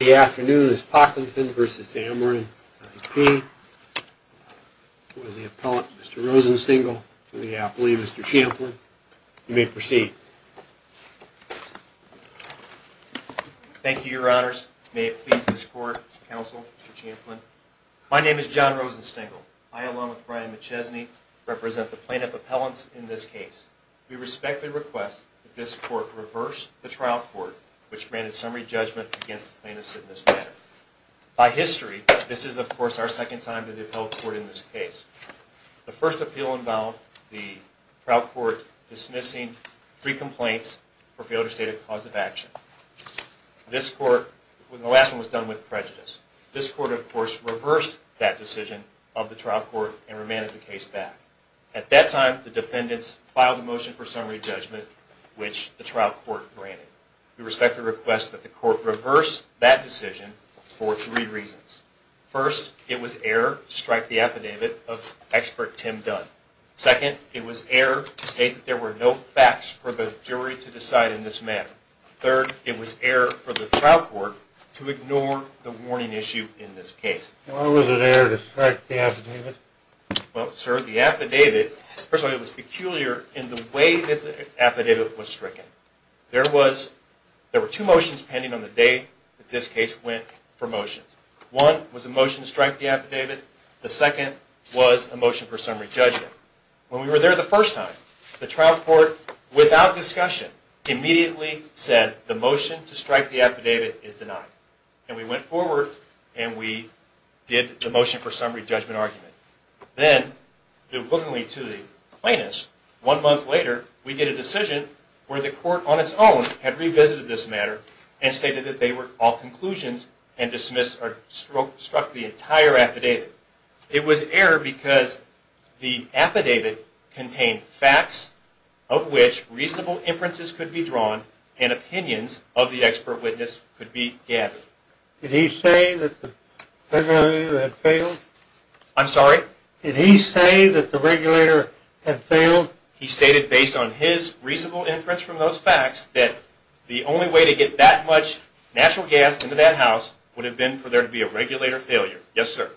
The appellant, Mr. Rosenstengel, for the appellee, Mr. Champlin. You may proceed. Thank you, Your Honors. May it please this Court, Mr. Counsel, Mr. Champlin. My name is John Rosenstengel. I, along with Brian McChesney, represent the plaintiff appellants in this case. We respectfully request that this Court reverse the trial court, which granted summary judgment against the plaintiff in this matter. By history, this is, of course, our second time to the appellate court in this case. The first appeal involved the trial court dismissing three complaints for failure to state a cause of action. The last one was done with prejudice. This court, of course, reversed that decision of the trial court and remanded the case back. At that time, the defendants filed a motion for summary judgment, which the trial court granted. We respectfully request that the court reverse that decision for three reasons. First, it was error to strike the affidavit of expert Tim Dunn. Second, it was error to state that there were no facts for the jury to decide in this matter. Third, it was error for the trial court to ignore the warning issue in this case. Why was it error to strike the affidavit? Well, sir, the affidavit, first of all, it was peculiar in the way that the affidavit was stricken. There were two motions pending on the day that this case went for motion. One was a motion to strike the affidavit. The second was a motion for summary judgment. When we were there the first time, the trial court, without discussion, immediately said the motion to strike the affidavit is denied. And we went forward and we did the motion for summary judgment argument. Then, deliberately to the plainness, one month later, we get a decision where the court on its own had revisited this matter and stated that they were all conclusions and struck the entire affidavit. It was error because the affidavit contained facts of which reasonable inferences could be drawn and opinions of the expert witness could be gathered. Did he say that the regulator had failed? I'm sorry? Did he say that the regulator had failed? He stated based on his reasonable inference from those facts that the only way to get that much natural gas into that house would have been for there to be a regulator failure. Yes, sir.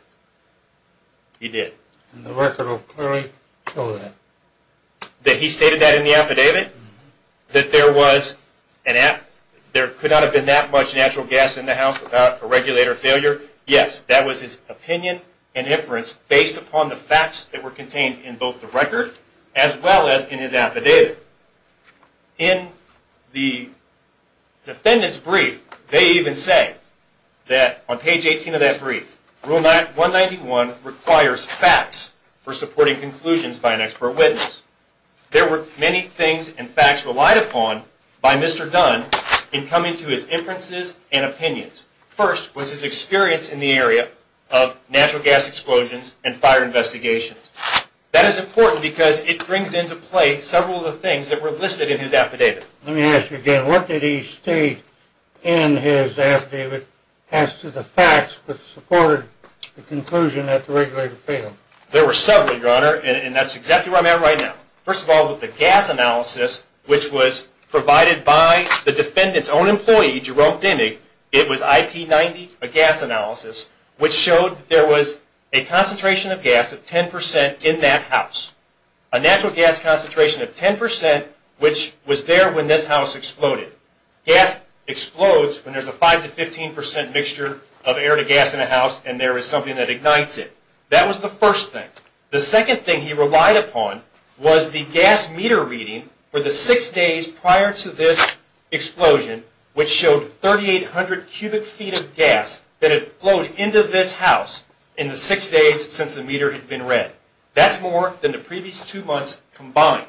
He did. And the record will clearly show that. That he stated that in the affidavit? That there could not have been that much natural gas in the house without a regulator failure? Yes, that was his opinion and inference based upon the facts that were contained in both the record as well as in his affidavit. In the defendant's brief, they even say that on page 18 of that brief, Rule 191 requires facts for supporting conclusions by an expert witness. There were many things and facts relied upon by Mr. Dunn in coming to his inferences and opinions. First was his experience in the area of natural gas explosions and fire investigations. That is important because it brings into play several of the things that were listed in his affidavit. Let me ask you again. What did he state in his affidavit as to the facts that supported the conclusion that the regulator failed? There were several, Your Honor, and that's exactly where I'm at right now. First of all, with the gas analysis, which was provided by the defendant's own employee, Jerome Dimmick, it was IP 90, a gas analysis, which showed that there was a concentration of gas of 10% in that house. A natural gas concentration of 10%, which was there when this house exploded. Gas explodes when there's a 5 to 15% mixture of air to gas in a house and there is something that ignites it. That was the first thing. The second thing he relied upon was the gas meter reading for the six days prior to this explosion, which showed 3,800 cubic feet of gas that had flowed into this house in the six days since the meter had been read. That's more than the previous two months combined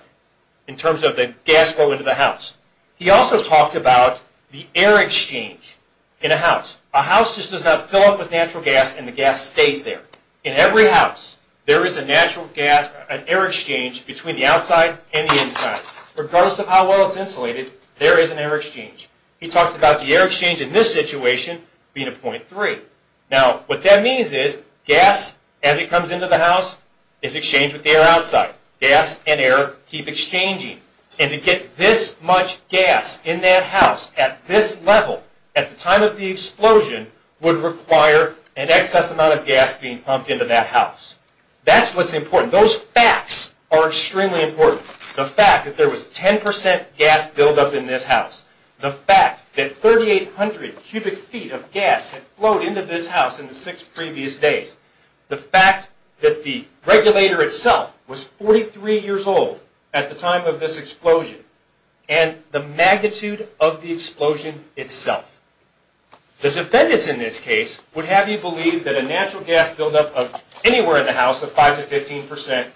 in terms of the gas flow into the house. He also talked about the air exchange in a house. A house just does not fill up with natural gas and the gas stays there. In every house, there is a natural gas, an air exchange between the outside and the inside. Regardless of how well it's insulated, there is an air exchange. He talked about the air exchange in this situation being a .3. What that means is gas, as it comes into the house, is exchanged with the air outside. Gas and air keep exchanging. To get this much gas in that house at this level at the time of the explosion would require an excess amount of gas being pumped into that house. That's what's important. Those facts are extremely important. The fact that there was 10% gas buildup in this house. The fact that 3,800 cubic feet of gas had flowed into this house in the six previous days. The fact that the regulator itself was 43 years old at the time of this explosion. And the magnitude of the explosion itself. The defendants in this case would have you believe that a natural gas buildup of anywhere in the house of 5 to 15%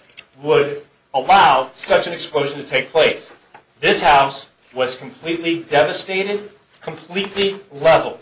would allow such an explosion to take place. This house was completely devastated, completely leveled.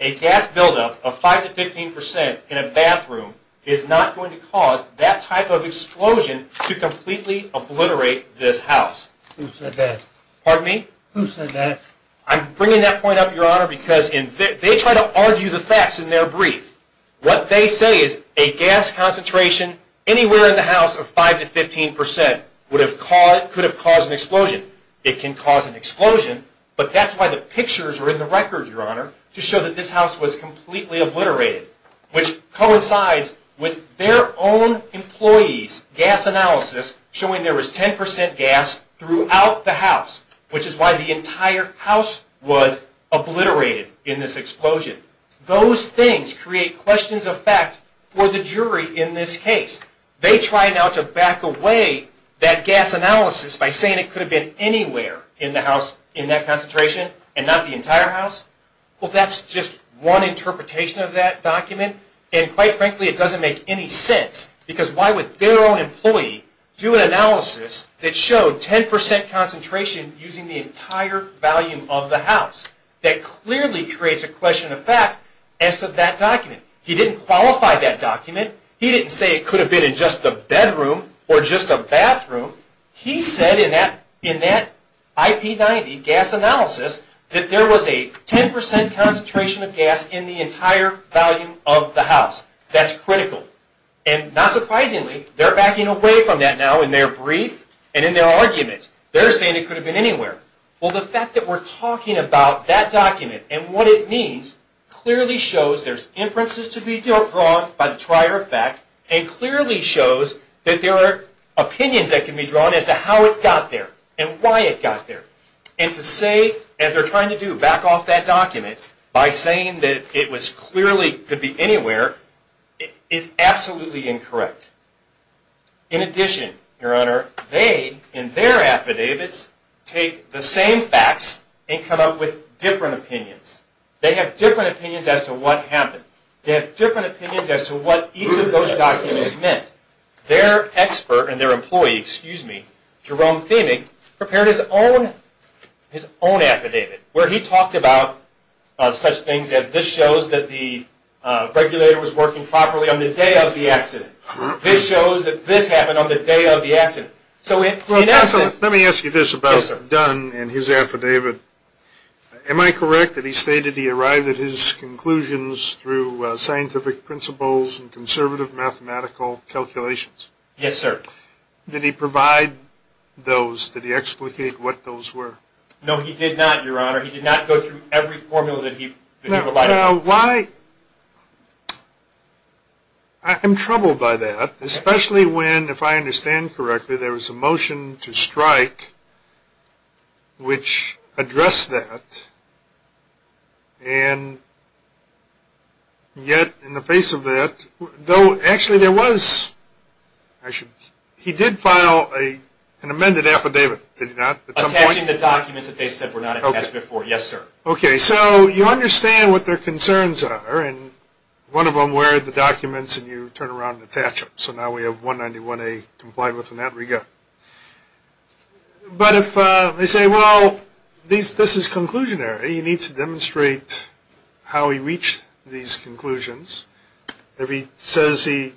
A gas buildup of 5 to 15% in a bathroom is not going to cause that type of explosion to completely obliterate this house. Who said that? Pardon me? Who said that? I'm bringing that point up, Your Honor, because they try to argue the facts in their brief. What they say is a gas concentration anywhere in the house of 5 to 15% could have caused an explosion. It can cause an explosion, but that's why the pictures are in the record, Your Honor, to show that this house was completely obliterated, which coincides with their own employee's gas analysis showing there was 10% gas throughout the house, which is why the entire house was obliterated in this explosion. Those things create questions of fact for the jury in this case. They try now to back away that gas analysis by saying it could have been anywhere in the house in that concentration and not the entire house. Well, that's just one interpretation of that document, and quite frankly it doesn't make any sense because why would their own employee do an analysis that showed 10% concentration using the entire volume of the house? That clearly creates a question of fact as to that document. He didn't qualify that document. He didn't say it could have been in just the bedroom or just a bathroom. He said in that IP90 gas analysis that there was a 10% concentration of gas in the entire volume of the house. That's critical. And not surprisingly, they're backing away from that now in their brief and in their argument. They're saying it could have been anywhere. Well, the fact that we're talking about that document and what it means clearly shows there's inferences to be drawn by the trier of fact and clearly shows that there are opinions that can be drawn as to how it got there and why it got there. And to say, as they're trying to do, back off that document by saying that it clearly could be anywhere is absolutely incorrect. In addition, Your Honor, they, in their affidavits, take the same facts and come up with different opinions. They have different opinions as to what happened. They have different opinions as to what each of those documents meant. Their expert and their employee, excuse me, Jerome Fehmig, prepared his own affidavit where he talked about such things as this shows that the regulator was working properly on the day of the accident. This shows that this happened on the day of the accident. So in essence... Let me ask you this about Dunn and his affidavit. Am I correct that he stated he arrived at his conclusions through scientific principles and conservative mathematical calculations? Yes, sir. Did he provide those? Did he explicate what those were? No, he did not, Your Honor. He did not go through every formula that he provided. Now, why... I'm troubled by that, especially when, if I understand correctly, there was a motion to strike which addressed that, and yet in the face of that... Though actually there was... He did file an amended affidavit, did he not, at some point? Attaching the documents that they said were not attached before, yes, sir. Okay, so you understand what their concerns are, and one of them were the documents and you turn around and attach them. So now we have 191A complied with and out we go. But if they say, well, this is conclusionary, you need to demonstrate how he reached these conclusions. If he says he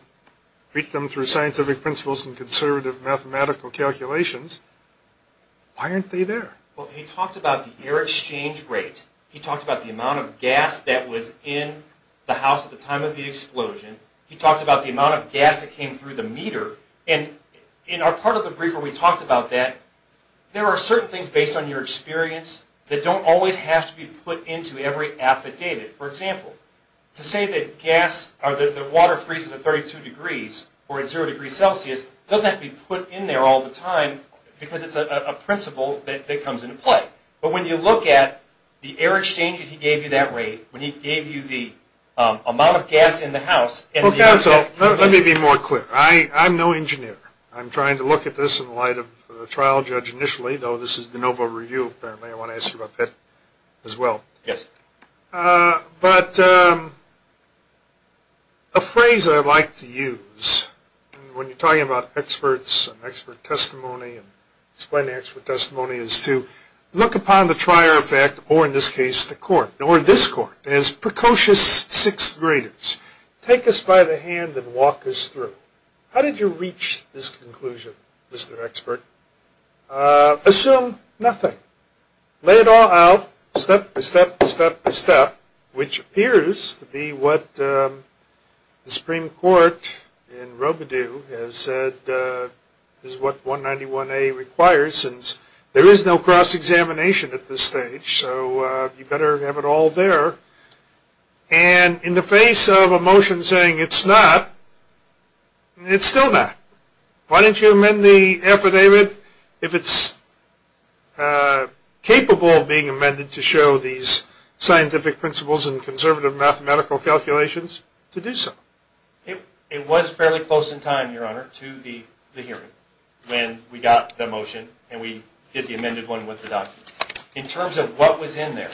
reached them through scientific principles and conservative mathematical calculations, why aren't they there? Well, he talked about the air exchange rate. He talked about the amount of gas that was in the house at the time of the explosion. He talked about the amount of gas that came through the meter. And in our part of the brief where we talked about that, there are certain things based on your experience that don't always have to be put into every affidavit. For example, to say that gas or that the water freezes at 32 degrees or at zero degrees Celsius doesn't have to be put in there all the time because it's a principle that comes into play. But when you look at the air exchange that he gave you that rate, when he gave you the amount of gas in the house. Well, counsel, let me be more clear. I'm no engineer. I'm trying to look at this in light of the trial judge initially, though this is the NOVA review apparently. I want to ask you about that as well. Yes. But a phrase I like to use when you're talking about experts and expert testimony and explaining expert testimony is to look upon the trier effect, or in this case the court, or this court, as precocious sixth graders. Take us by the hand and walk us through. How did you reach this conclusion, Mr. Expert? Assume nothing. Lay it all out step by step by step by step, which appears to be what the Supreme Court in Robidoux has said is what 191A requires There is no cross-examination at this stage, so you better have it all there. And in the face of a motion saying it's not, it's still not. Why didn't you amend the affidavit if it's capable of being amended to show these scientific principles and conservative mathematical calculations to do so? It was fairly close in time, Your Honor, to the hearing when we got the motion and we did the amended one with the document. In terms of what was in there,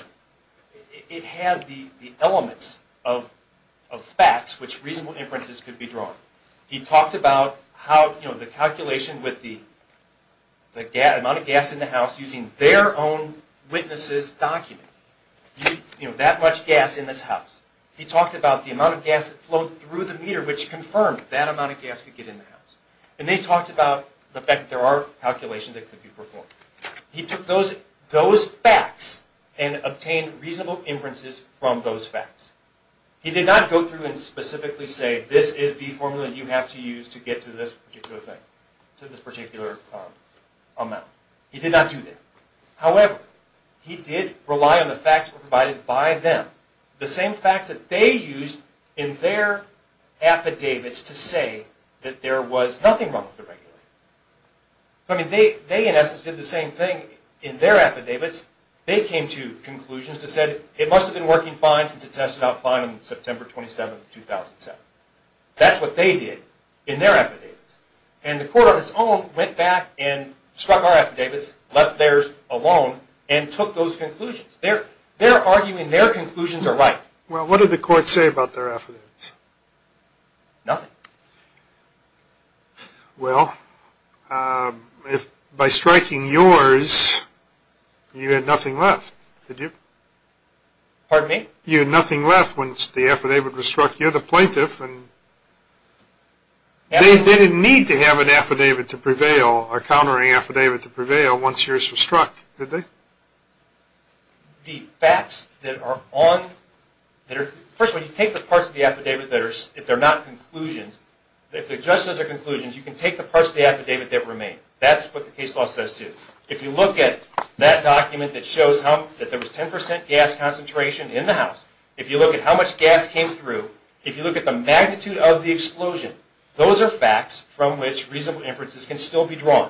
it had the elements of facts which reasonable inferences could be drawn. He talked about the calculation with the amount of gas in the house using their own witness's document. That much gas in this house. He talked about the amount of gas that flowed through the meter which confirmed that amount of gas could get in the house. And they talked about the fact that there are calculations that could be performed. He took those facts and obtained reasonable inferences from those facts. He did not go through and specifically say this is the formula you have to use to get to this particular thing, to this particular amount. He did not do that. However, he did rely on the facts provided by them. The same facts that they used in their affidavits to say that there was nothing wrong with the regulations. They, in essence, did the same thing in their affidavits. They came to conclusions that said it must have been working fine since it tested out fine on September 27, 2007. That's what they did in their affidavits. And the court on its own went back and struck our affidavits, left theirs alone, and took those conclusions. They're arguing their conclusions are right. Well, what did the court say about their affidavits? Nothing. Well, by striking yours, you had nothing left, did you? Pardon me? You had nothing left once the affidavit was struck. You're the plaintiff. They didn't need to have an affidavit to prevail or a countering affidavit to prevail once yours was struck, did they? The facts that are on there. First of all, you take the parts of the affidavit that are not conclusions. If the judge says they're conclusions, you can take the parts of the affidavit that remain. That's what the case law says, too. If you look at that document that shows that there was 10% gas concentration in the house, if you look at how much gas came through, if you look at the magnitude of the explosion, those are facts from which reasonable inferences can still be drawn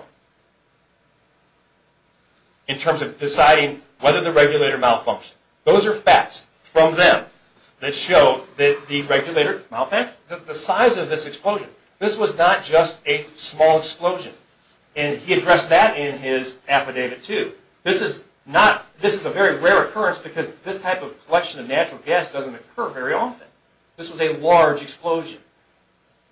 in terms of deciding whether the regulator malfunctioned. Those are facts from them that show that the regulator malfunctioned. The size of this explosion. This was not just a small explosion, and he addressed that in his affidavit, too. This is a very rare occurrence because this type of collection of natural gas doesn't occur very often. This was a large explosion.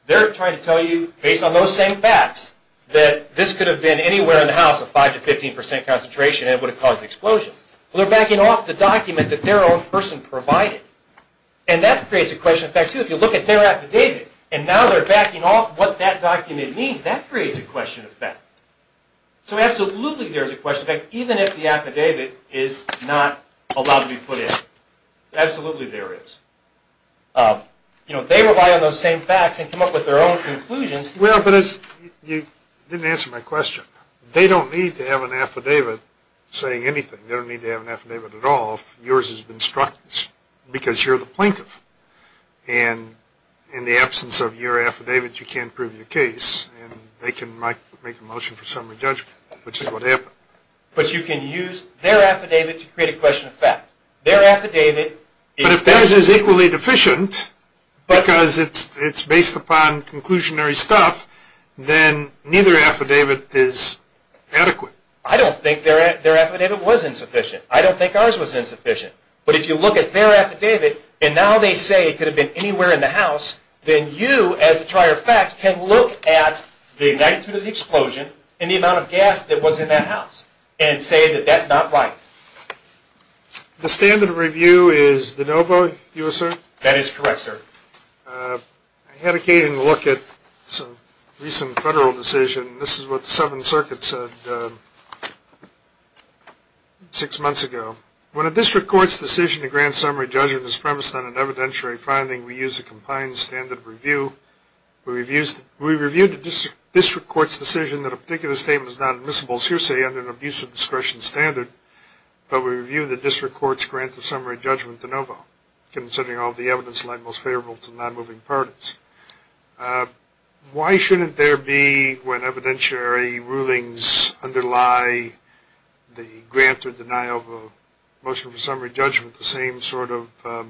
They're trying to tell you, based on those same facts, that this could have been anywhere in the house of 5% to 15% concentration and it would have caused the explosion. They're backing off the document that their own person provided, and that creates a question of fact, too. If you look at their affidavit, and now they're backing off what that document means, that creates a question of fact. So absolutely there is a question of fact, even if the affidavit is not allowed to be put in. Absolutely there is. They rely on those same facts and come up with their own conclusions. Well, but you didn't answer my question. They don't need to have an affidavit saying anything. They don't need to have an affidavit at all. Yours has been struck because you're the plaintiff, and in the absence of your affidavit, you can't prove your case, and they can make a motion for summary judgment, which is what happened. But you can use their affidavit to create a question of fact. But if theirs is equally deficient because it's based upon conclusionary stuff, then neither affidavit is adequate. I don't think their affidavit was insufficient. I don't think ours was insufficient. But if you look at their affidavit, and now they say it could have been anywhere in the house, then you, as a trier of fact, can look at the magnitude of the explosion and the amount of gas that was in that house and say that that's not right. The standard of review is de novo, you assert? That is correct, sir. I had a look at a recent federal decision. This is what the Southern Circuit said six months ago. When a district court's decision to grant summary judgment is premised on an evidentiary finding, we use a compliant standard of review. We reviewed the district court's decision that a particular statement is not admissible sur se under an abuse of discretion standard, but we reviewed the district court's grant of summary judgment de novo, considering all the evidence laid most favorable to non-moving parties. Why shouldn't there be, when evidentiary rulings underlie the grant or denial of a motion for summary judgment, the same sort of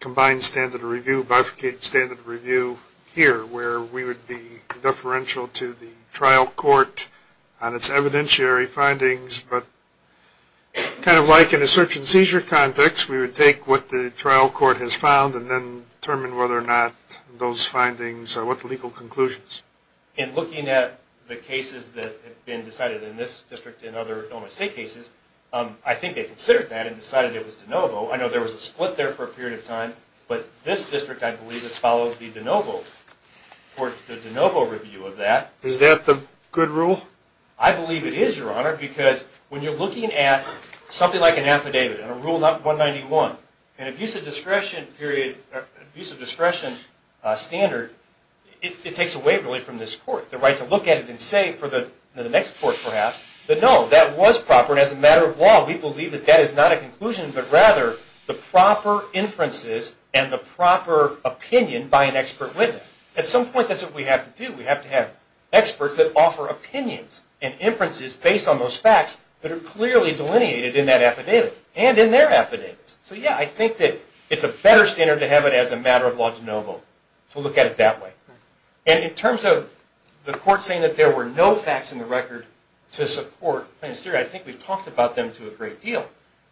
combined standard of review, bifurcated standard of review here, where we would be deferential to the trial court on its evidentiary findings, but kind of like in a search and seizure context, we would take what the trial court has found and then determine whether or not those findings are what legal conclusions. In looking at the cases that have been decided in this district and other Illinois State cases, I think they considered that and decided it was de novo. I know there was a split there for a period of time, but this district, I believe, has followed the de novo, or the de novo review of that. Is that the good rule? I believe it is, Your Honor, because when you're looking at something like an affidavit, a Rule 191, an abuse of discretion period, abuse of discretion standard, it takes away, really, from this court the right to look at it and say for the next court, perhaps, that no, that was proper, and as a matter of law, we believe that that is not a conclusion, but rather the proper inferences and the proper opinion by an expert witness. At some point, that's what we have to do. We have to have experts that offer opinions and inferences based on those facts that are clearly delineated in that affidavit and in their affidavits. So, yeah, I think that it's a better standard to have it as a matter of law de novo to look at it that way. that there were no facts in the record to support Plaintiff's theory, I think we've talked about them to a great deal.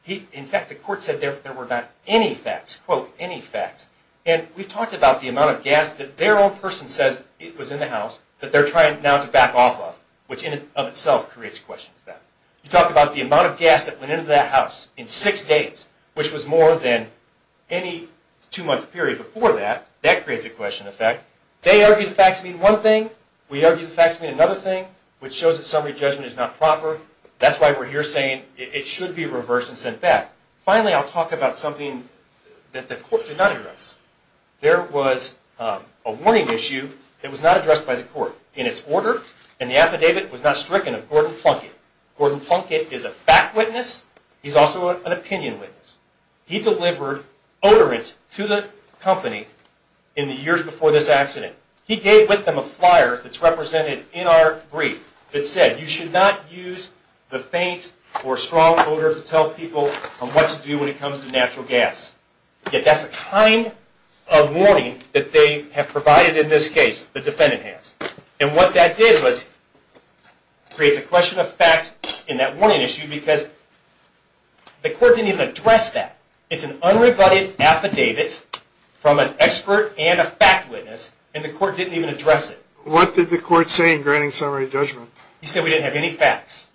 In fact, the court said there were not any facts, quote, any facts, and we've talked about the amount of gas that their own person says it was in the house that they're trying now to back off of, which in and of itself creates a question effect. You talk about the amount of gas that went into that house in six days, which was more than any two-month period before that, that creates a question effect. They argue the facts mean one thing, we argue the facts mean another thing, which shows that summary judgment is not proper. That's why we're here saying it should be reversed and sent back. Finally, I'll talk about something that the court did not address. There was a warning issue that was not addressed by the court in its order, and the affidavit was not stricken of Gordon Plunkett. Gordon Plunkett is a fact witness. He's also an opinion witness. He delivered odorants to the company in the years before this accident. He gave with them a flyer that's represented in our brief that said you should not use the faint or strong odor to tell people what to do when it comes to natural gas. That's the kind of warning that they have provided in this case, the defendant has. What that did was create a question effect in that warning issue because the court didn't even address that. It's an unrebutted affidavit from an expert and a fact witness, and the court didn't even address it. What did the court say in granting summary judgment? He said we didn't have any facts.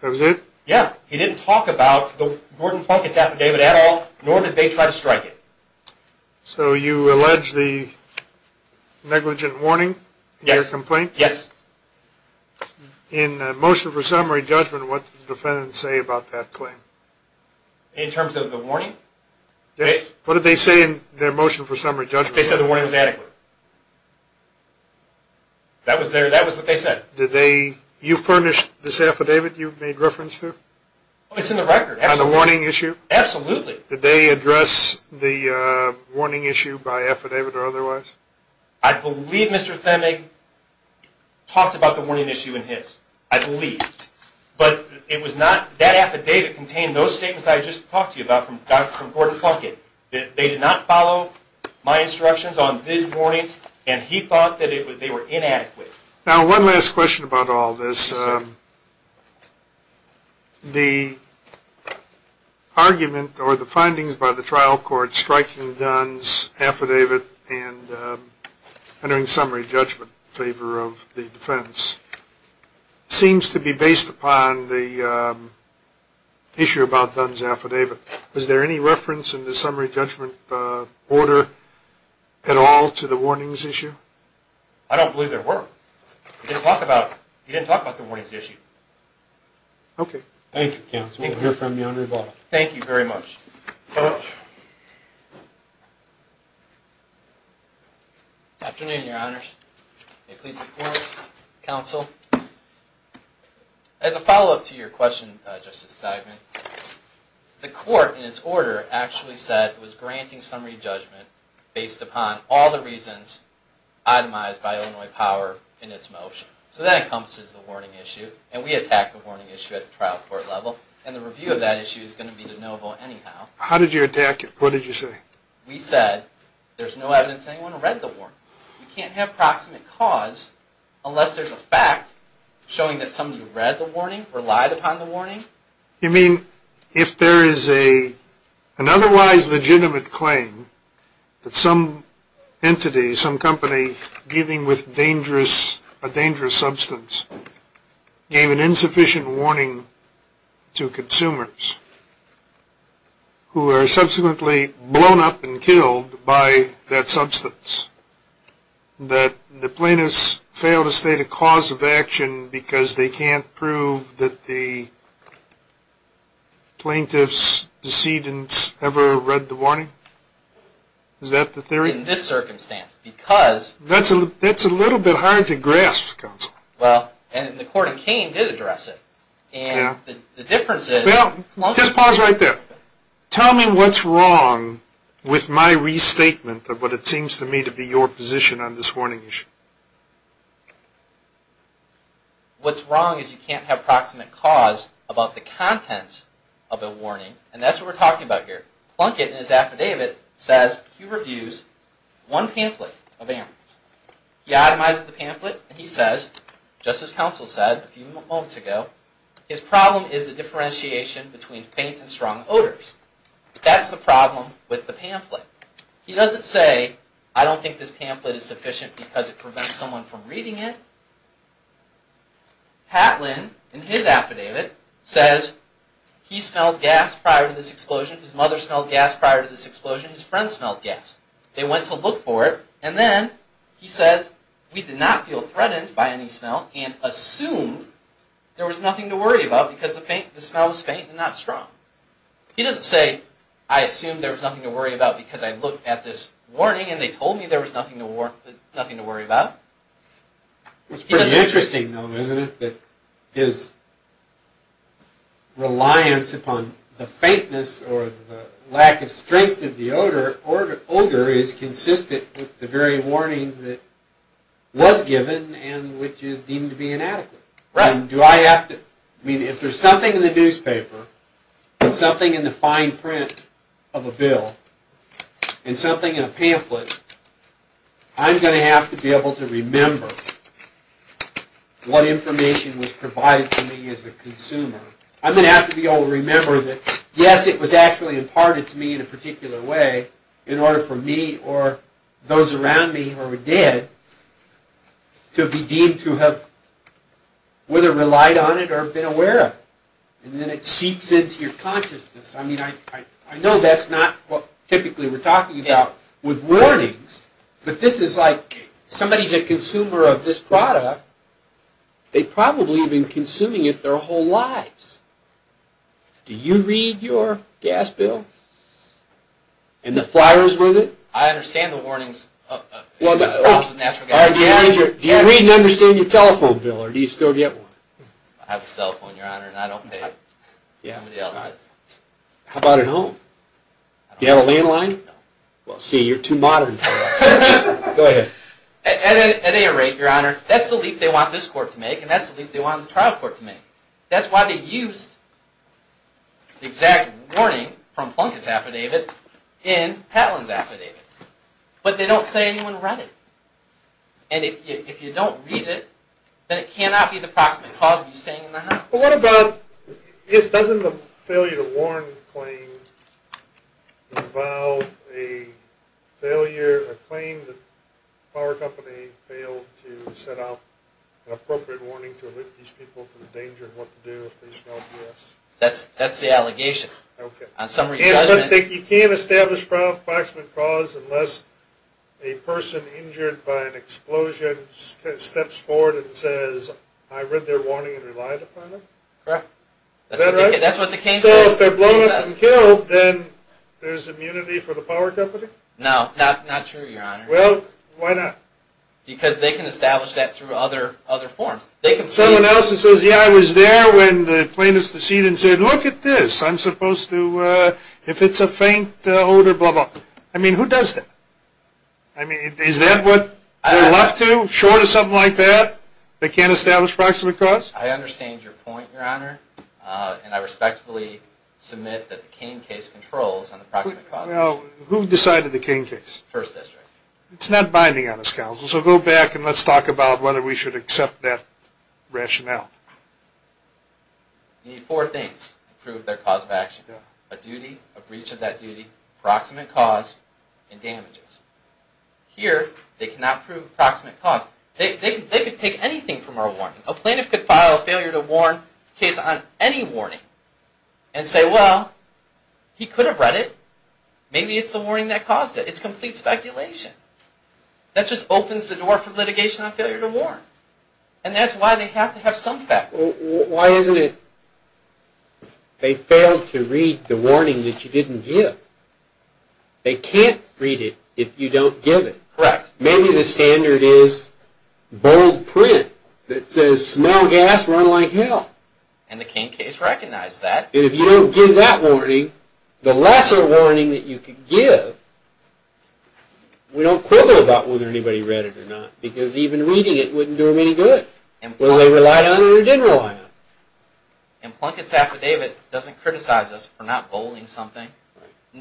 That was it? Yeah, he didn't talk about the Gordon Plunkett affidavit at all, nor did they try to strike it. So you allege the negligent warning in your complaint? Yes. In the motion for summary judgment, what did the defendant say about that claim? In terms of the warning? Yes. What did they say in their motion for summary judgment? They said the warning was adequate. That was what they said. Did you furnish this affidavit you made reference to? It's in the record. On the warning issue? Absolutely. Did they address the warning issue by affidavit or otherwise? I believe Mr. Themig talked about the warning issue in his. I believe. But that affidavit contained those statements that I just talked to you about from Gordon Plunkett. They did not follow my instructions on these warnings and he thought that they were inadequate. Now, one last question about all this. The argument or the findings by the trial court striking Dunn's affidavit and entering summary judgment in favor of the defense seems to be based upon the issue about Dunn's affidavit. Was there any reference in the summary judgment order at all to the warnings issue? I don't believe there were. He didn't talk about the warnings issue. Okay. Thank you, counsel. We'll hear from you on rebuttal. Thank you very much. Afternoon, your honors. May it please the court, counsel. As a follow-up to your question, Justice Steinman, the court in its order actually said it was granting summary judgment based upon all the reasons itemized by Illinois Power in its motion. So that encompasses the warning issue and we attacked the warning issue at the trial court level and the review of that issue is going to be de novo anyhow. How did you attack it? What did you say? We said there's no evidence anyone read the warning. You can't have proximate cause unless there's a fact showing that somebody read the warning or lied upon the warning. You mean if there is an otherwise legitimate claim that some entity, some company dealing with a dangerous substance gave an insufficient warning to consumers who were subsequently blown up and killed by that substance, that the plaintiffs failed to state a cause of action because they can't prove that the plaintiffs' decedents ever read the warning? Is that the theory? In this circumstance, because... That's a little bit hard to grasp, counsel. Well, and the court in Kane did address it. And the difference is... Well, just pause right there. Tell me what's wrong with my restatement of what it seems to me to be your position on this warning issue. What's wrong is you can't have proximate cause about the contents of a warning. And that's what we're talking about here. Plunkett in his affidavit says he reviews one pamphlet of animals. He itemizes the pamphlet and he says, just as counsel said a few moments ago, his problem is the differentiation between faint and strong odors. That's the problem with the pamphlet. He doesn't say, I don't think this pamphlet is sufficient because it prevents someone from reading it. Hatlin in his affidavit says he smelled gas prior to this explosion. His mother smelled gas prior to this explosion. His friends smelled gas. They went to look for it. And then he says, we did not feel threatened by any smell and assumed there was nothing to worry about because the smell was faint and not strong. He doesn't say, I assumed there was nothing to worry about because I looked at this warning and they told me there was nothing to worry about. It's pretty interesting though, isn't it, that his reliance upon the faintness or the lack of strength of the odor is consistent with the very warning that was given and which is deemed to be inadequate. If there's something in the newspaper and something in the fine print of a bill and something in a pamphlet, I'm going to have to be able to remember what information was provided to me as a consumer. I'm going to have to be able to remember that, yes, it was actually imparted to me in a particular way in order for me or those around me who were dead to be deemed to have whether relied on it or been aware of it. And then it seeps into your consciousness. I mean, I know that's not what typically we're talking about with warnings, but this is like somebody's a consumer of this product. They've probably been consuming it their whole lives. Do you read your gas bill and the flyers with it? I understand the warnings. Do you read and understand your telephone bill or do you still get one? I have a cell phone, Your Honor, and I don't pay. How about at home? Do you have a landline? No. Well, see, you're too modern for that. Go ahead. At any rate, Your Honor, that's the leap they want this court to make and that's the leap they want the trial court to make. That's why they used the exact warning from Plunkett's affidavit in Patlin's affidavit. But they don't say anyone read it. And if you don't read it, then it cannot be the proximate cause of you staying in the house. Well, what about, doesn't the failure to warn claim involve a failure, a claim that the power company failed to set up an appropriate warning to alert these people to the danger of what to do if they smell gas? That's the allegation. On summary judgment. You can't establish proximate cause unless a person injured by an explosion steps forward and says, I read their warning and relied upon it? Correct. Is that right? That's what the case says. So if they're blown up and killed, then there's immunity for the power company? No, not true, Your Honor. Well, why not? Because they can establish that through other forms. Someone else who says, yeah, I was there when the plane was to cede and said, look at this, I'm supposed to, if it's a faint odor, blah, blah. I mean, who does that? I mean, is that what they're left to? Short of something like that? They can't establish proximate cause? I understand your point, Your Honor, and I respectfully submit that the Cain case controls on the proximate cause. Who decided the Cain case? First District. It's not binding on us, Counsel, so go back and let's talk about whether we should accept that rationale. You need four things to prove their cause of action. A duty, a breach of that duty, proximate cause, and damages. Here, they cannot prove proximate cause. They could take anything from our warning. A plaintiff could file a failure to warn case on any warning and say, well, he could have read it. Maybe it's the warning that caused it. It's complete speculation. That just opens the door for litigation on failure to warn. And that's why they have to have some facts. Why isn't it they failed to read the warning that you didn't give? They can't read it if you don't give it. Correct. Maybe the standard is bold print that says, smell gas, run like hell. And the Cain case recognized that. And if you don't give that warning, the lesser warning that you could give, we don't quibble about whether anybody read it or not, because even reading it wouldn't do them any good. Whether they relied on it or didn't rely on it. And Plunkett's Affidavit doesn't criticize us for not bolding something,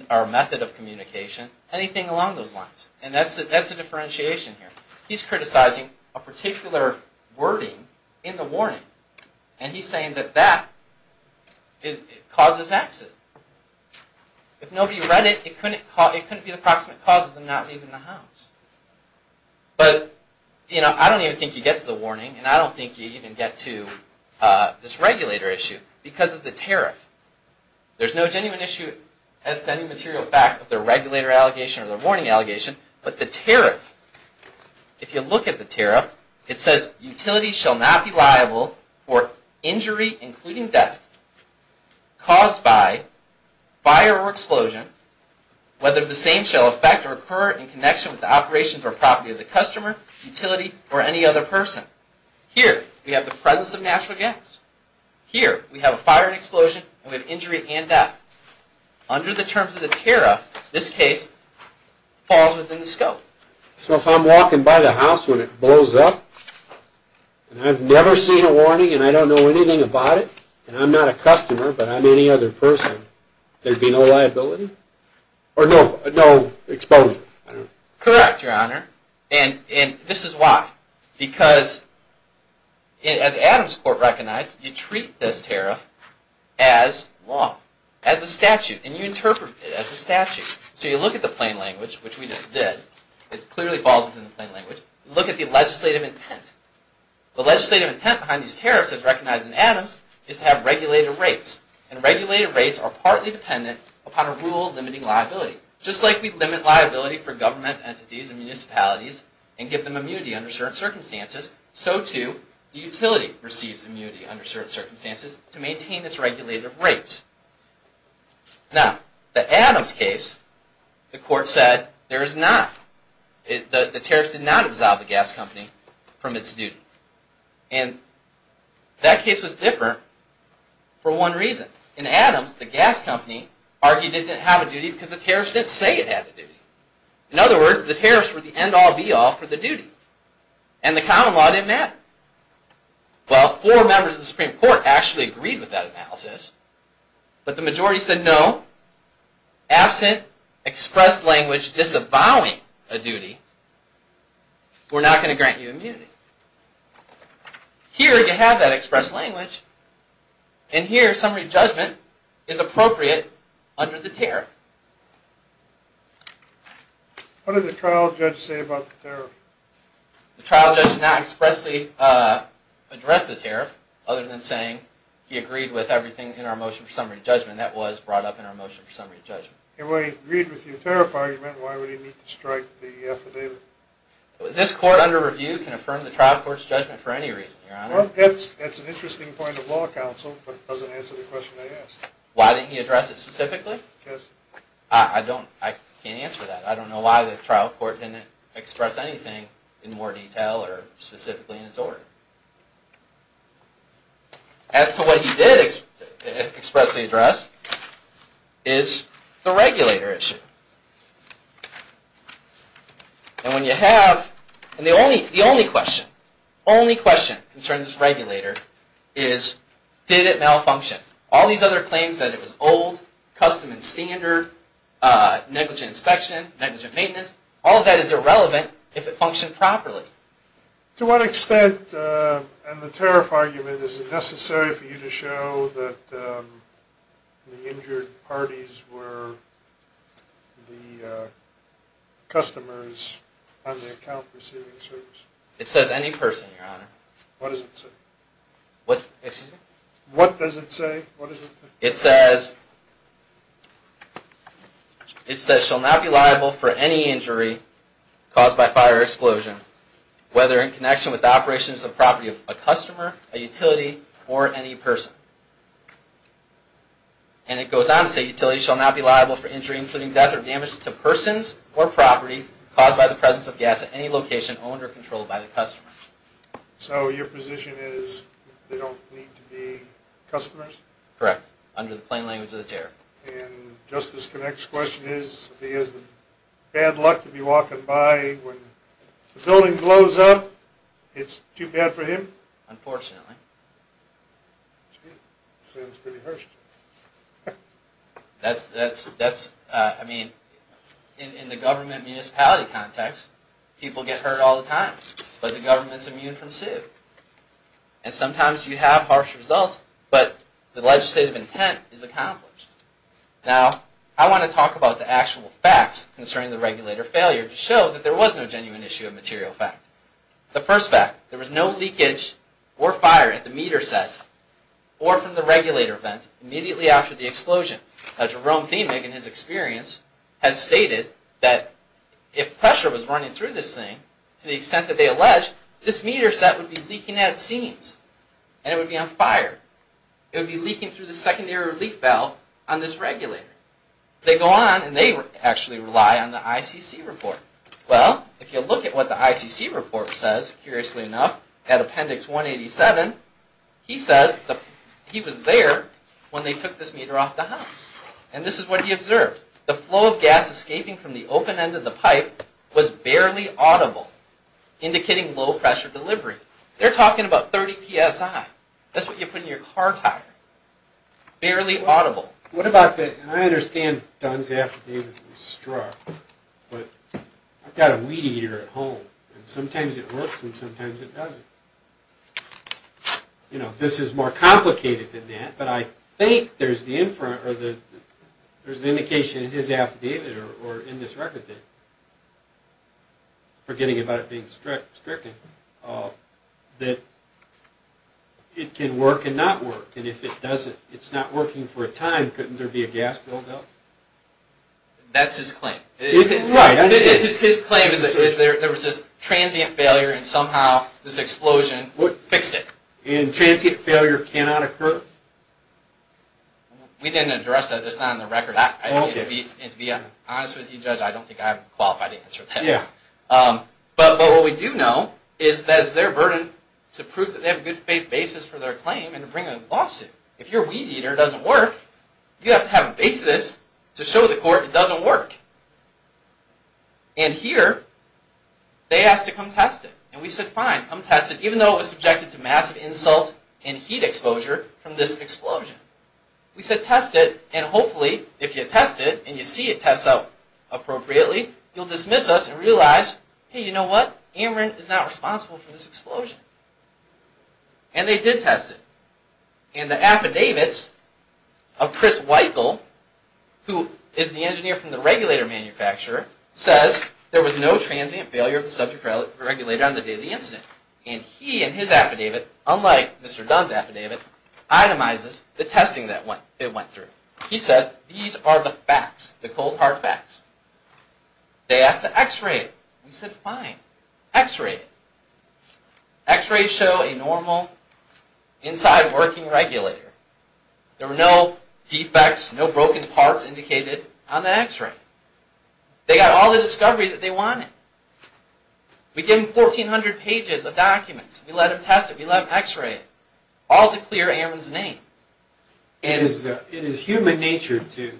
our method of communication, anything along those lines. And that's the differentiation here. He's criticizing a particular wording in the warning. And he's saying that that caused this accident. If nobody read it, it couldn't be the proximate cause of them not leaving the house. But I don't even think you get to the warning, and I don't think you even get to this regulator issue, because of the tariff. There's no genuine issue as to any material fact with the regulator allegation or the warning allegation. But the tariff, if you look at the tariff, it says, utilities shall not be liable for injury, including death, caused by fire or explosion, whether the same shall affect or occur in connection with the operations or property of the customer, utility, or any other person. Here, we have the presence of natural gas. Here, we have a fire and explosion, and we have injury and death. Under the terms of the tariff, this case falls within the scope. So if I'm walking by the house when it blows up, and I've never seen a warning, and I don't know anything about it, and I'm not a customer, but I'm any other person, there'd be no liability? Or no exposure? Correct, Your Honor. And this is why. Because, as Adams Court recognized, you treat this tariff as law, as a statute, and you interpret it as a statute. So you look at the plain language, which we just did. It clearly falls within the plain language. Look at the legislative intent. The legislative intent behind these tariffs, as recognized in Adams, is to have regulated rates. And regulated rates are partly dependent upon a rule limiting liability. Just like we limit liability for government entities and municipalities and give them immunity under certain circumstances, so, too, the utility receives immunity under certain circumstances to maintain its regulated rates. Now, the Adams case, the court said there is not. The tariffs did not absolve the gas company from its duty. And that case was different for one reason. In Adams, the gas company argued it didn't have a duty because the tariffs didn't say it had a duty. In other words, the tariffs were the end-all, be-all for the duty. And the common law didn't matter. Well, four members of the Supreme Court actually agreed with that analysis. But the majority said no. Absent express language disavowing a duty, we're not going to grant you immunity. Here, you have that express language. And here, summary judgment is appropriate under the tariff. What did the trial judge say about the tariff? The trial judge did not expressly address the tariff other than saying he agreed with everything in our motion for summary judgment. That was brought up in our motion for summary judgment. If he agreed with your tariff argument, why would he need to strike the affidavit? This court, under review, can affirm the trial court's judgment for any reason, Your Honor. Well, that's an interesting point of law counsel, but it doesn't answer the question I asked. Why didn't he address it specifically? Yes. I can't answer that. I don't know why the trial court didn't express anything in more detail or specifically in its order. As to what he did expressly address is the regulator issue. And the only question only question concerning this regulator is did it malfunction? All these other claims that it was old, custom and standard, negligent inspection, negligent maintenance, all of that is irrelevant if it functioned properly. To what extent and the tariff argument is it necessary for you to show that the injured parties were the customers on the account receiving the service? It says any person, Your Honor. What does it say? What does it say? It says it says shall not be liable for any injury caused by fire or explosion whether in connection with operations of property of a customer, a utility, or any person. And it goes on to say utility shall not be liable for injury including death or damage to persons or property caused by the presence of gas at any location owned or controlled by the customer. So your position is they don't need to be customers? Correct. Under the plain language of the tariff. And Justice Connick's question is if he has bad luck to be walking by when the building glows up it's too bad for him? Unfortunately. Sounds pretty harsh to me. That's that's I mean in the government municipality context people get hurt all the time but the government is immune from suit. And sometimes you have harsh results but the legislative intent is accomplished. Now I want to talk about the actual facts concerning the regulator failure to show that there was no genuine issue of material fact. The first fact, there was no leakage or fire at the meter set or from the regulator vent immediately after the explosion. Now Jerome Thiemig in his experience has stated that if pressure was running through this thing to the extent that they allege, this meter set would be leaking at seams. And it would be on fire. It would be leaking through the secondary relief valve on this regulator. They go on and they actually rely on the ICC report. Well, if you look at what the ICC report says, curiously enough, at appendix 187 he says he was there when they took this meter off the house. And this is what he observed. The flow of gas escaping from the open end of the pipe was barely audible indicating low pressure delivery. They're talking about 30 PSI. That's what you put in your car tire. Barely audible. What about the, and I understand Dunn's affidavit was struck, but I've got a weed eater at home and sometimes it works and sometimes it doesn't. You know, this is more complicated than that, but I think there's the indication in his affidavit or in this record, forgetting about it being stricken, that it can work and not work. And if it's not working for a time, couldn't there be a gas buildup? That's his claim. His claim is there was this transient failure and somehow this explosion fixed it. And transient failure cannot occur? We didn't address that. That's not on the record. To be honest with you, Judge, I don't think I'm qualified to answer that. But what we do know is that it's their burden to prove that they have a good faith basis for their claim and to bring a lawsuit. If your weed eater doesn't work, you have to have a basis to show the court it doesn't work. And here they asked to come test it. And we said, fine, come test it, even though it was subjected to massive insult and heat exposure from this explosion. We said, test it, and hopefully, if you test it and you see it test out appropriately, you'll dismiss us and realize, hey, you know what? Amarin is not responsible for this explosion. And they did test it. And the affidavits of Chris Weichel, who is the engineer from the regulator manufacturer, says there was no transient failure of the subject regulator on the day of the incident. And he in his affidavit, unlike Mr. Dunn's attesting that it went through, he says, these are the facts, the cold hard facts. They asked to x-ray it. We said, fine. X-ray it. X-rays show a normal inside working regulator. There were no defects, no broken parts indicated on the x-ray. They got all the discovery that they wanted. We gave them 1,400 pages of documents. We let them test it. We let them x-ray it. All to clear Amarin's name. It is human nature to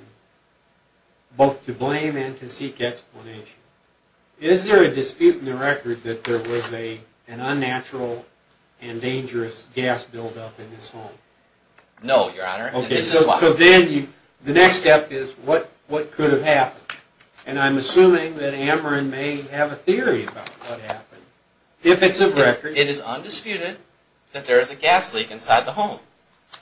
both to blame and to seek explanation. Is there a dispute in the record that there was an unnatural and dangerous gas buildup in this home? No, Your Honor. So then, the next step is what could have happened? And I'm assuming that Amarin may have a theory about what happened. If it's of record...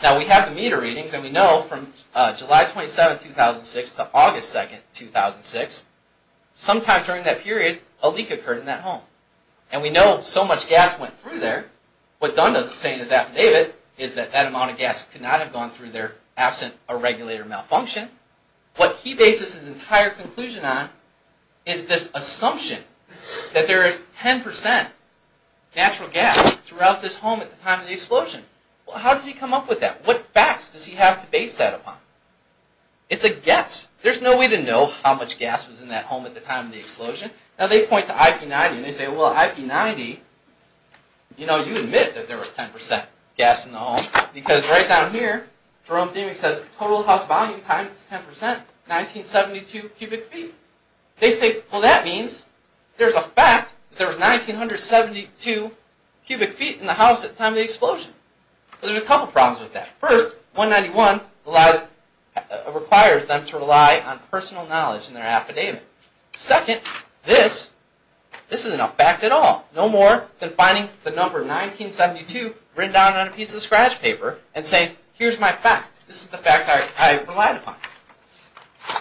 Now, we have the meter readings and we know from July 27, 2006 to August 2, 2006, sometime during that period, a leak occurred in that home. And we know so much gas went through there. What Dunn is saying in his affidavit is that that amount of gas could not have gone through there absent a regulator malfunction. What he bases his entire conclusion on is this assumption that there is 10% natural gas throughout this home at the time of the explosion. Well, how does he come up with that? What facts does he have to base that upon? It's a guess. There's no way to know how much gas was in that home at the time of the explosion. Now, they point to IP90 and they say, well, IP90, you know, you admit that there was 10% gas in the home because right down here, Jerome Demick says total house volume times 10% 1972 cubic feet. They say, well, that means there's a fact that there was 1972 cubic feet in the house at the time of the explosion. There's a couple problems with that. First, 191 requires them to rely on personal knowledge in their affidavit. Second, this isn't a fact at all. No more than finding the number 1972 written down on a piece of scratch paper and saying, here's my fact. This is the fact I relied upon.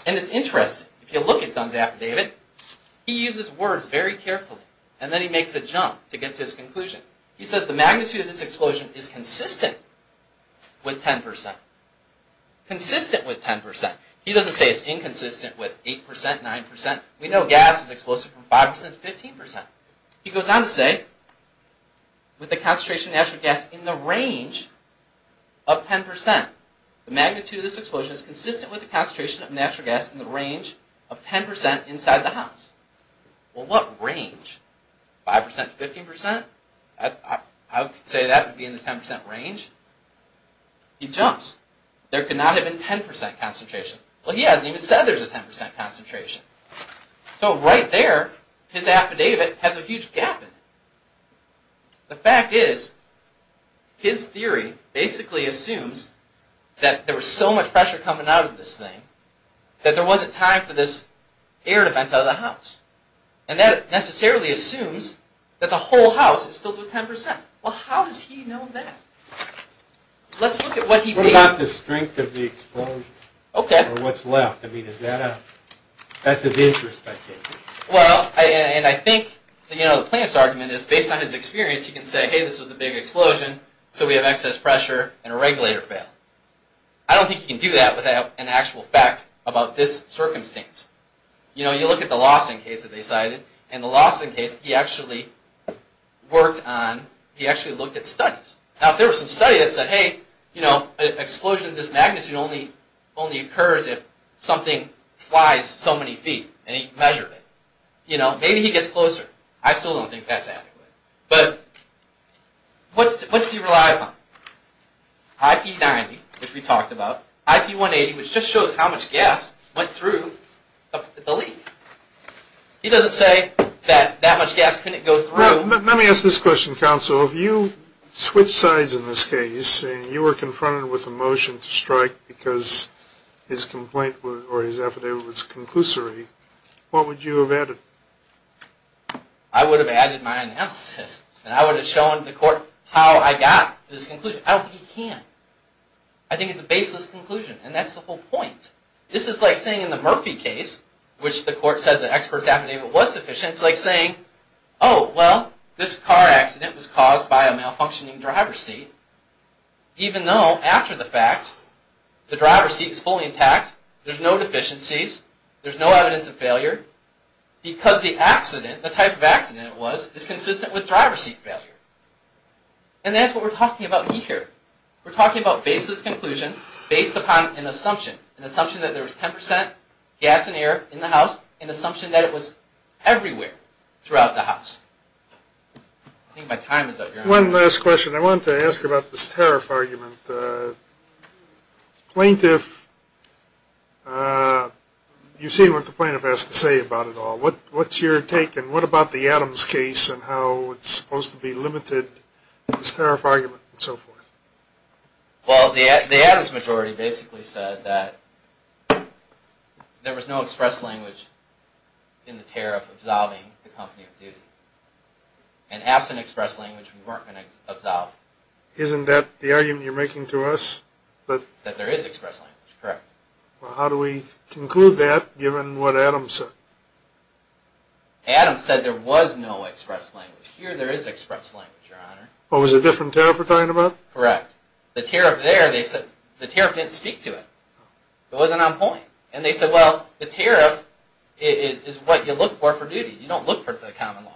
And it's interesting. If you look at Dunn's affidavit, he uses words very carefully and then he makes a jump to get to his conclusion. He says the magnitude of this explosion is consistent with 10%. Consistent with 10%. He doesn't say it's inconsistent with 8%, 9%. We know gas is explosive from 5% to 15%. He goes on to say with the concentration of natural gas in the range of 10%, the magnitude of this explosion is consistent with the concentration of natural gas in the range of 10% inside the house. Well, what range? 5% to 15%? I would say that would be in the 10% range. He jumps. There could not have been 10% concentration. Well, he hasn't even said there's a 10% concentration. So right there, his affidavit has a huge gap in it. The fact is his theory basically assumes that there was so much pressure coming out of this thing that there wasn't time for this air to vent out of the house. And that necessarily assumes that the whole house is filled with 10%. Well, how does he know that? Let's look at what he thinks. What about the strength of the explosion? Or what's left? That's his interest, I take it. Well, and I think the plaintiff's argument is based on his experience, he can say, hey, this was a big explosion, so we have excess pressure, and a regulator failed. I don't think he can do that without an actual fact about this circumstance. You look at the Lawson case that they cited. In the Lawson case, he actually worked on, he actually looked at studies. Now, if there was some study that said, hey, an explosion of this magnitude only occurs if something flies so many feet, and he measured it. Maybe he gets closer. I still don't think that's adequate. But, what's he reliable on? IP90, which we talked about. IP180, which just shows how much gas went through the leak. He doesn't say that that much gas couldn't go through. Let me ask this question, counsel. If you switch sides in this case, and you were confronted with a motion to strike because his complaint, or his affidavit was conclusory, what would you have added? I would have added my analysis, and I would have shown the court how I got this conclusion. I don't think he can. I think it's a baseless conclusion, and that's the whole point. This is like saying in the Murphy case, which the court said the expert's affidavit was sufficient, it's like saying, oh, well, this car accident was caused by a malfunctioning driver's seat, even though, after the fact, the driver's seat is fully intact, there's no deficiencies, there's no evidence of failure, because the accident, the type of accident it was, is consistent with driver's seat failure. And that's what we're talking about here. We're talking about baseless conclusions based upon an assumption, an assumption that there was 10% gas and air in the house, an assumption that it was everywhere throughout the house. I think my time is up. One last question. I wanted to ask about this tariff argument. Plaintiff You see what the plaintiff has to say about it all. What's your take, and what about the Adams case, and how it's supposed to be limited, this tariff argument, and so forth? Well, the Adams majority basically said that there was no express language in the tariff absolving the company of duty. And absent express language, we weren't going to absolve. Isn't that the argument you're making to us? That there is express language. Correct. Well, how do we conclude that, given what Adams said? Adams said there was no express language. Here, there is express language, your honor. What was the different tariff we're talking about? Correct. The tariff there, they said, the tariff didn't speak to it. It wasn't on point. And they said, well, the tariff is what you look for for duty. You don't look for it for the common law.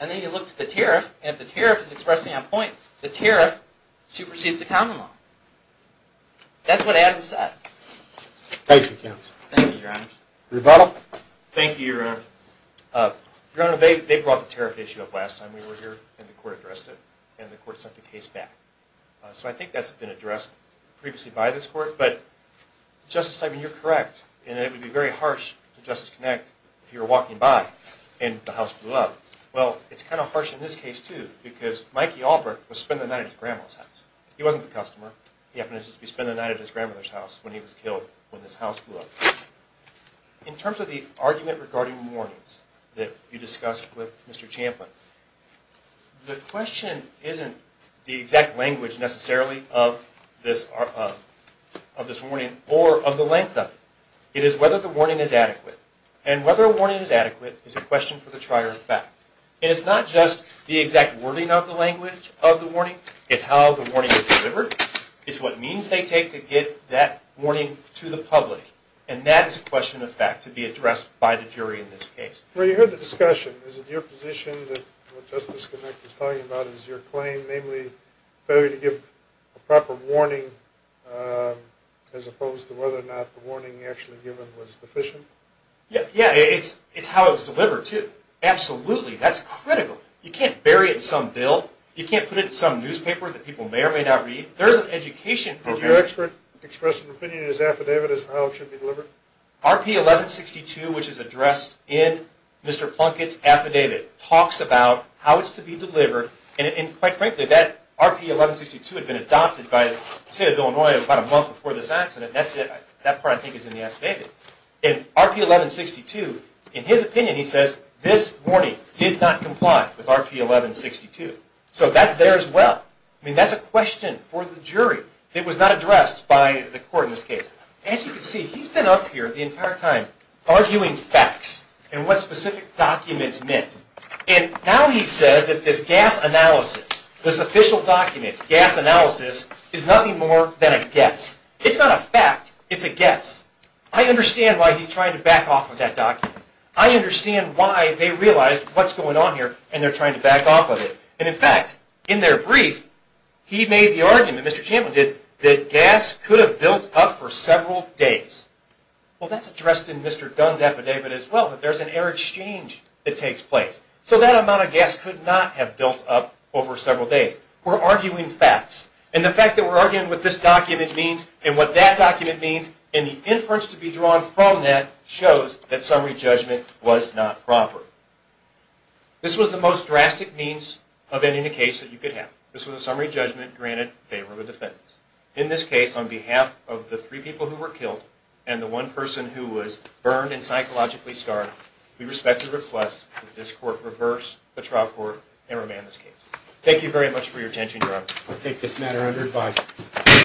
and then you look to the tariff, and if the tariff is expressing on point, the tariff supersedes the common law. That's what Adams said. Thank you, counsel. Thank you, your honor. Rebuttal? Thank you, your honor. Your honor, they brought the tariff issue up last time we were here, and the court addressed it, and the court sent the case back. So I think that's been addressed previously by this court, but, Justice Tymon, you're correct, and it would be very harsh to Justice Kinect, if you were walking by and the house blew up. Well, it's kind of harsh in this case, too, because Mikey Alpert was spending the night at his grandma's house. He wasn't the customer. He happened to be spending the night at his grandmother's house when he was killed when this house blew up. In terms of the argument regarding warnings that you discussed with Mr. Champlin, the question isn't the exact language, necessarily, of this warning, or of the length of it. It is whether the warning is adequate. And whether a warning is adequate is a question of fact. It's not just the exact wording of the language of the warning. It's how the warning is delivered. It's what means they take to get that warning to the public. And that is a question of fact, to be addressed by the jury in this case. Well, you heard the discussion. Is it your position that what Justice Kinect is talking about is your claim, namely, failure to give a proper warning, as opposed to whether or not the warning actually given was sufficient? Yeah, it's how it was delivered, too. Absolutely. That's critical. You can't bury it in some bill. You can't put it in some newspaper that people may or may not read. There's an education... Did your expert express an opinion that his affidavit is how it should be delivered? RP 1162, which is addressed in Mr. Plunkett's affidavit, talks about how it's to be delivered. And, quite frankly, that RP 1162 had been adopted by the state of Illinois about a month before this accident. That part, I think, is in the affidavit. And RP 1162, in his opinion, he says, this warning did not comply with RP 1162. So that's there as well. I mean, that's a question for the jury. It was not addressed by the court in this case. As you can see, he's been up here the entire time arguing facts and what specific documents meant. And now he says that this gas analysis, this official document, gas analysis, is nothing more than a guess. It's not a fact. It's a guess. I understand why he's trying to back off of that document. I understand why they realized what's going on here, and they're trying to back off of it. And, in fact, in their brief, he made the argument, Mr. Champlin did, that gas could have built up for several days. Well, that's addressed in Mr. Dunn's affidavit as well, that there's an air exchange that takes place. So that amount of gas could not have built up over several days. We're arguing facts. And the fact that we're arguing what this document means, and what that document means, and the inference to be drawn from that shows that summary judgment was not proper. This was the most drastic means of ending a case that you could have. This was a summary judgment granted in favor of a defendant. In this case, on behalf of the three people who were killed, and the one person who was burned and psychologically scarred, we respectfully request court and remand this case. Thank you very much for your attention, Your Honor.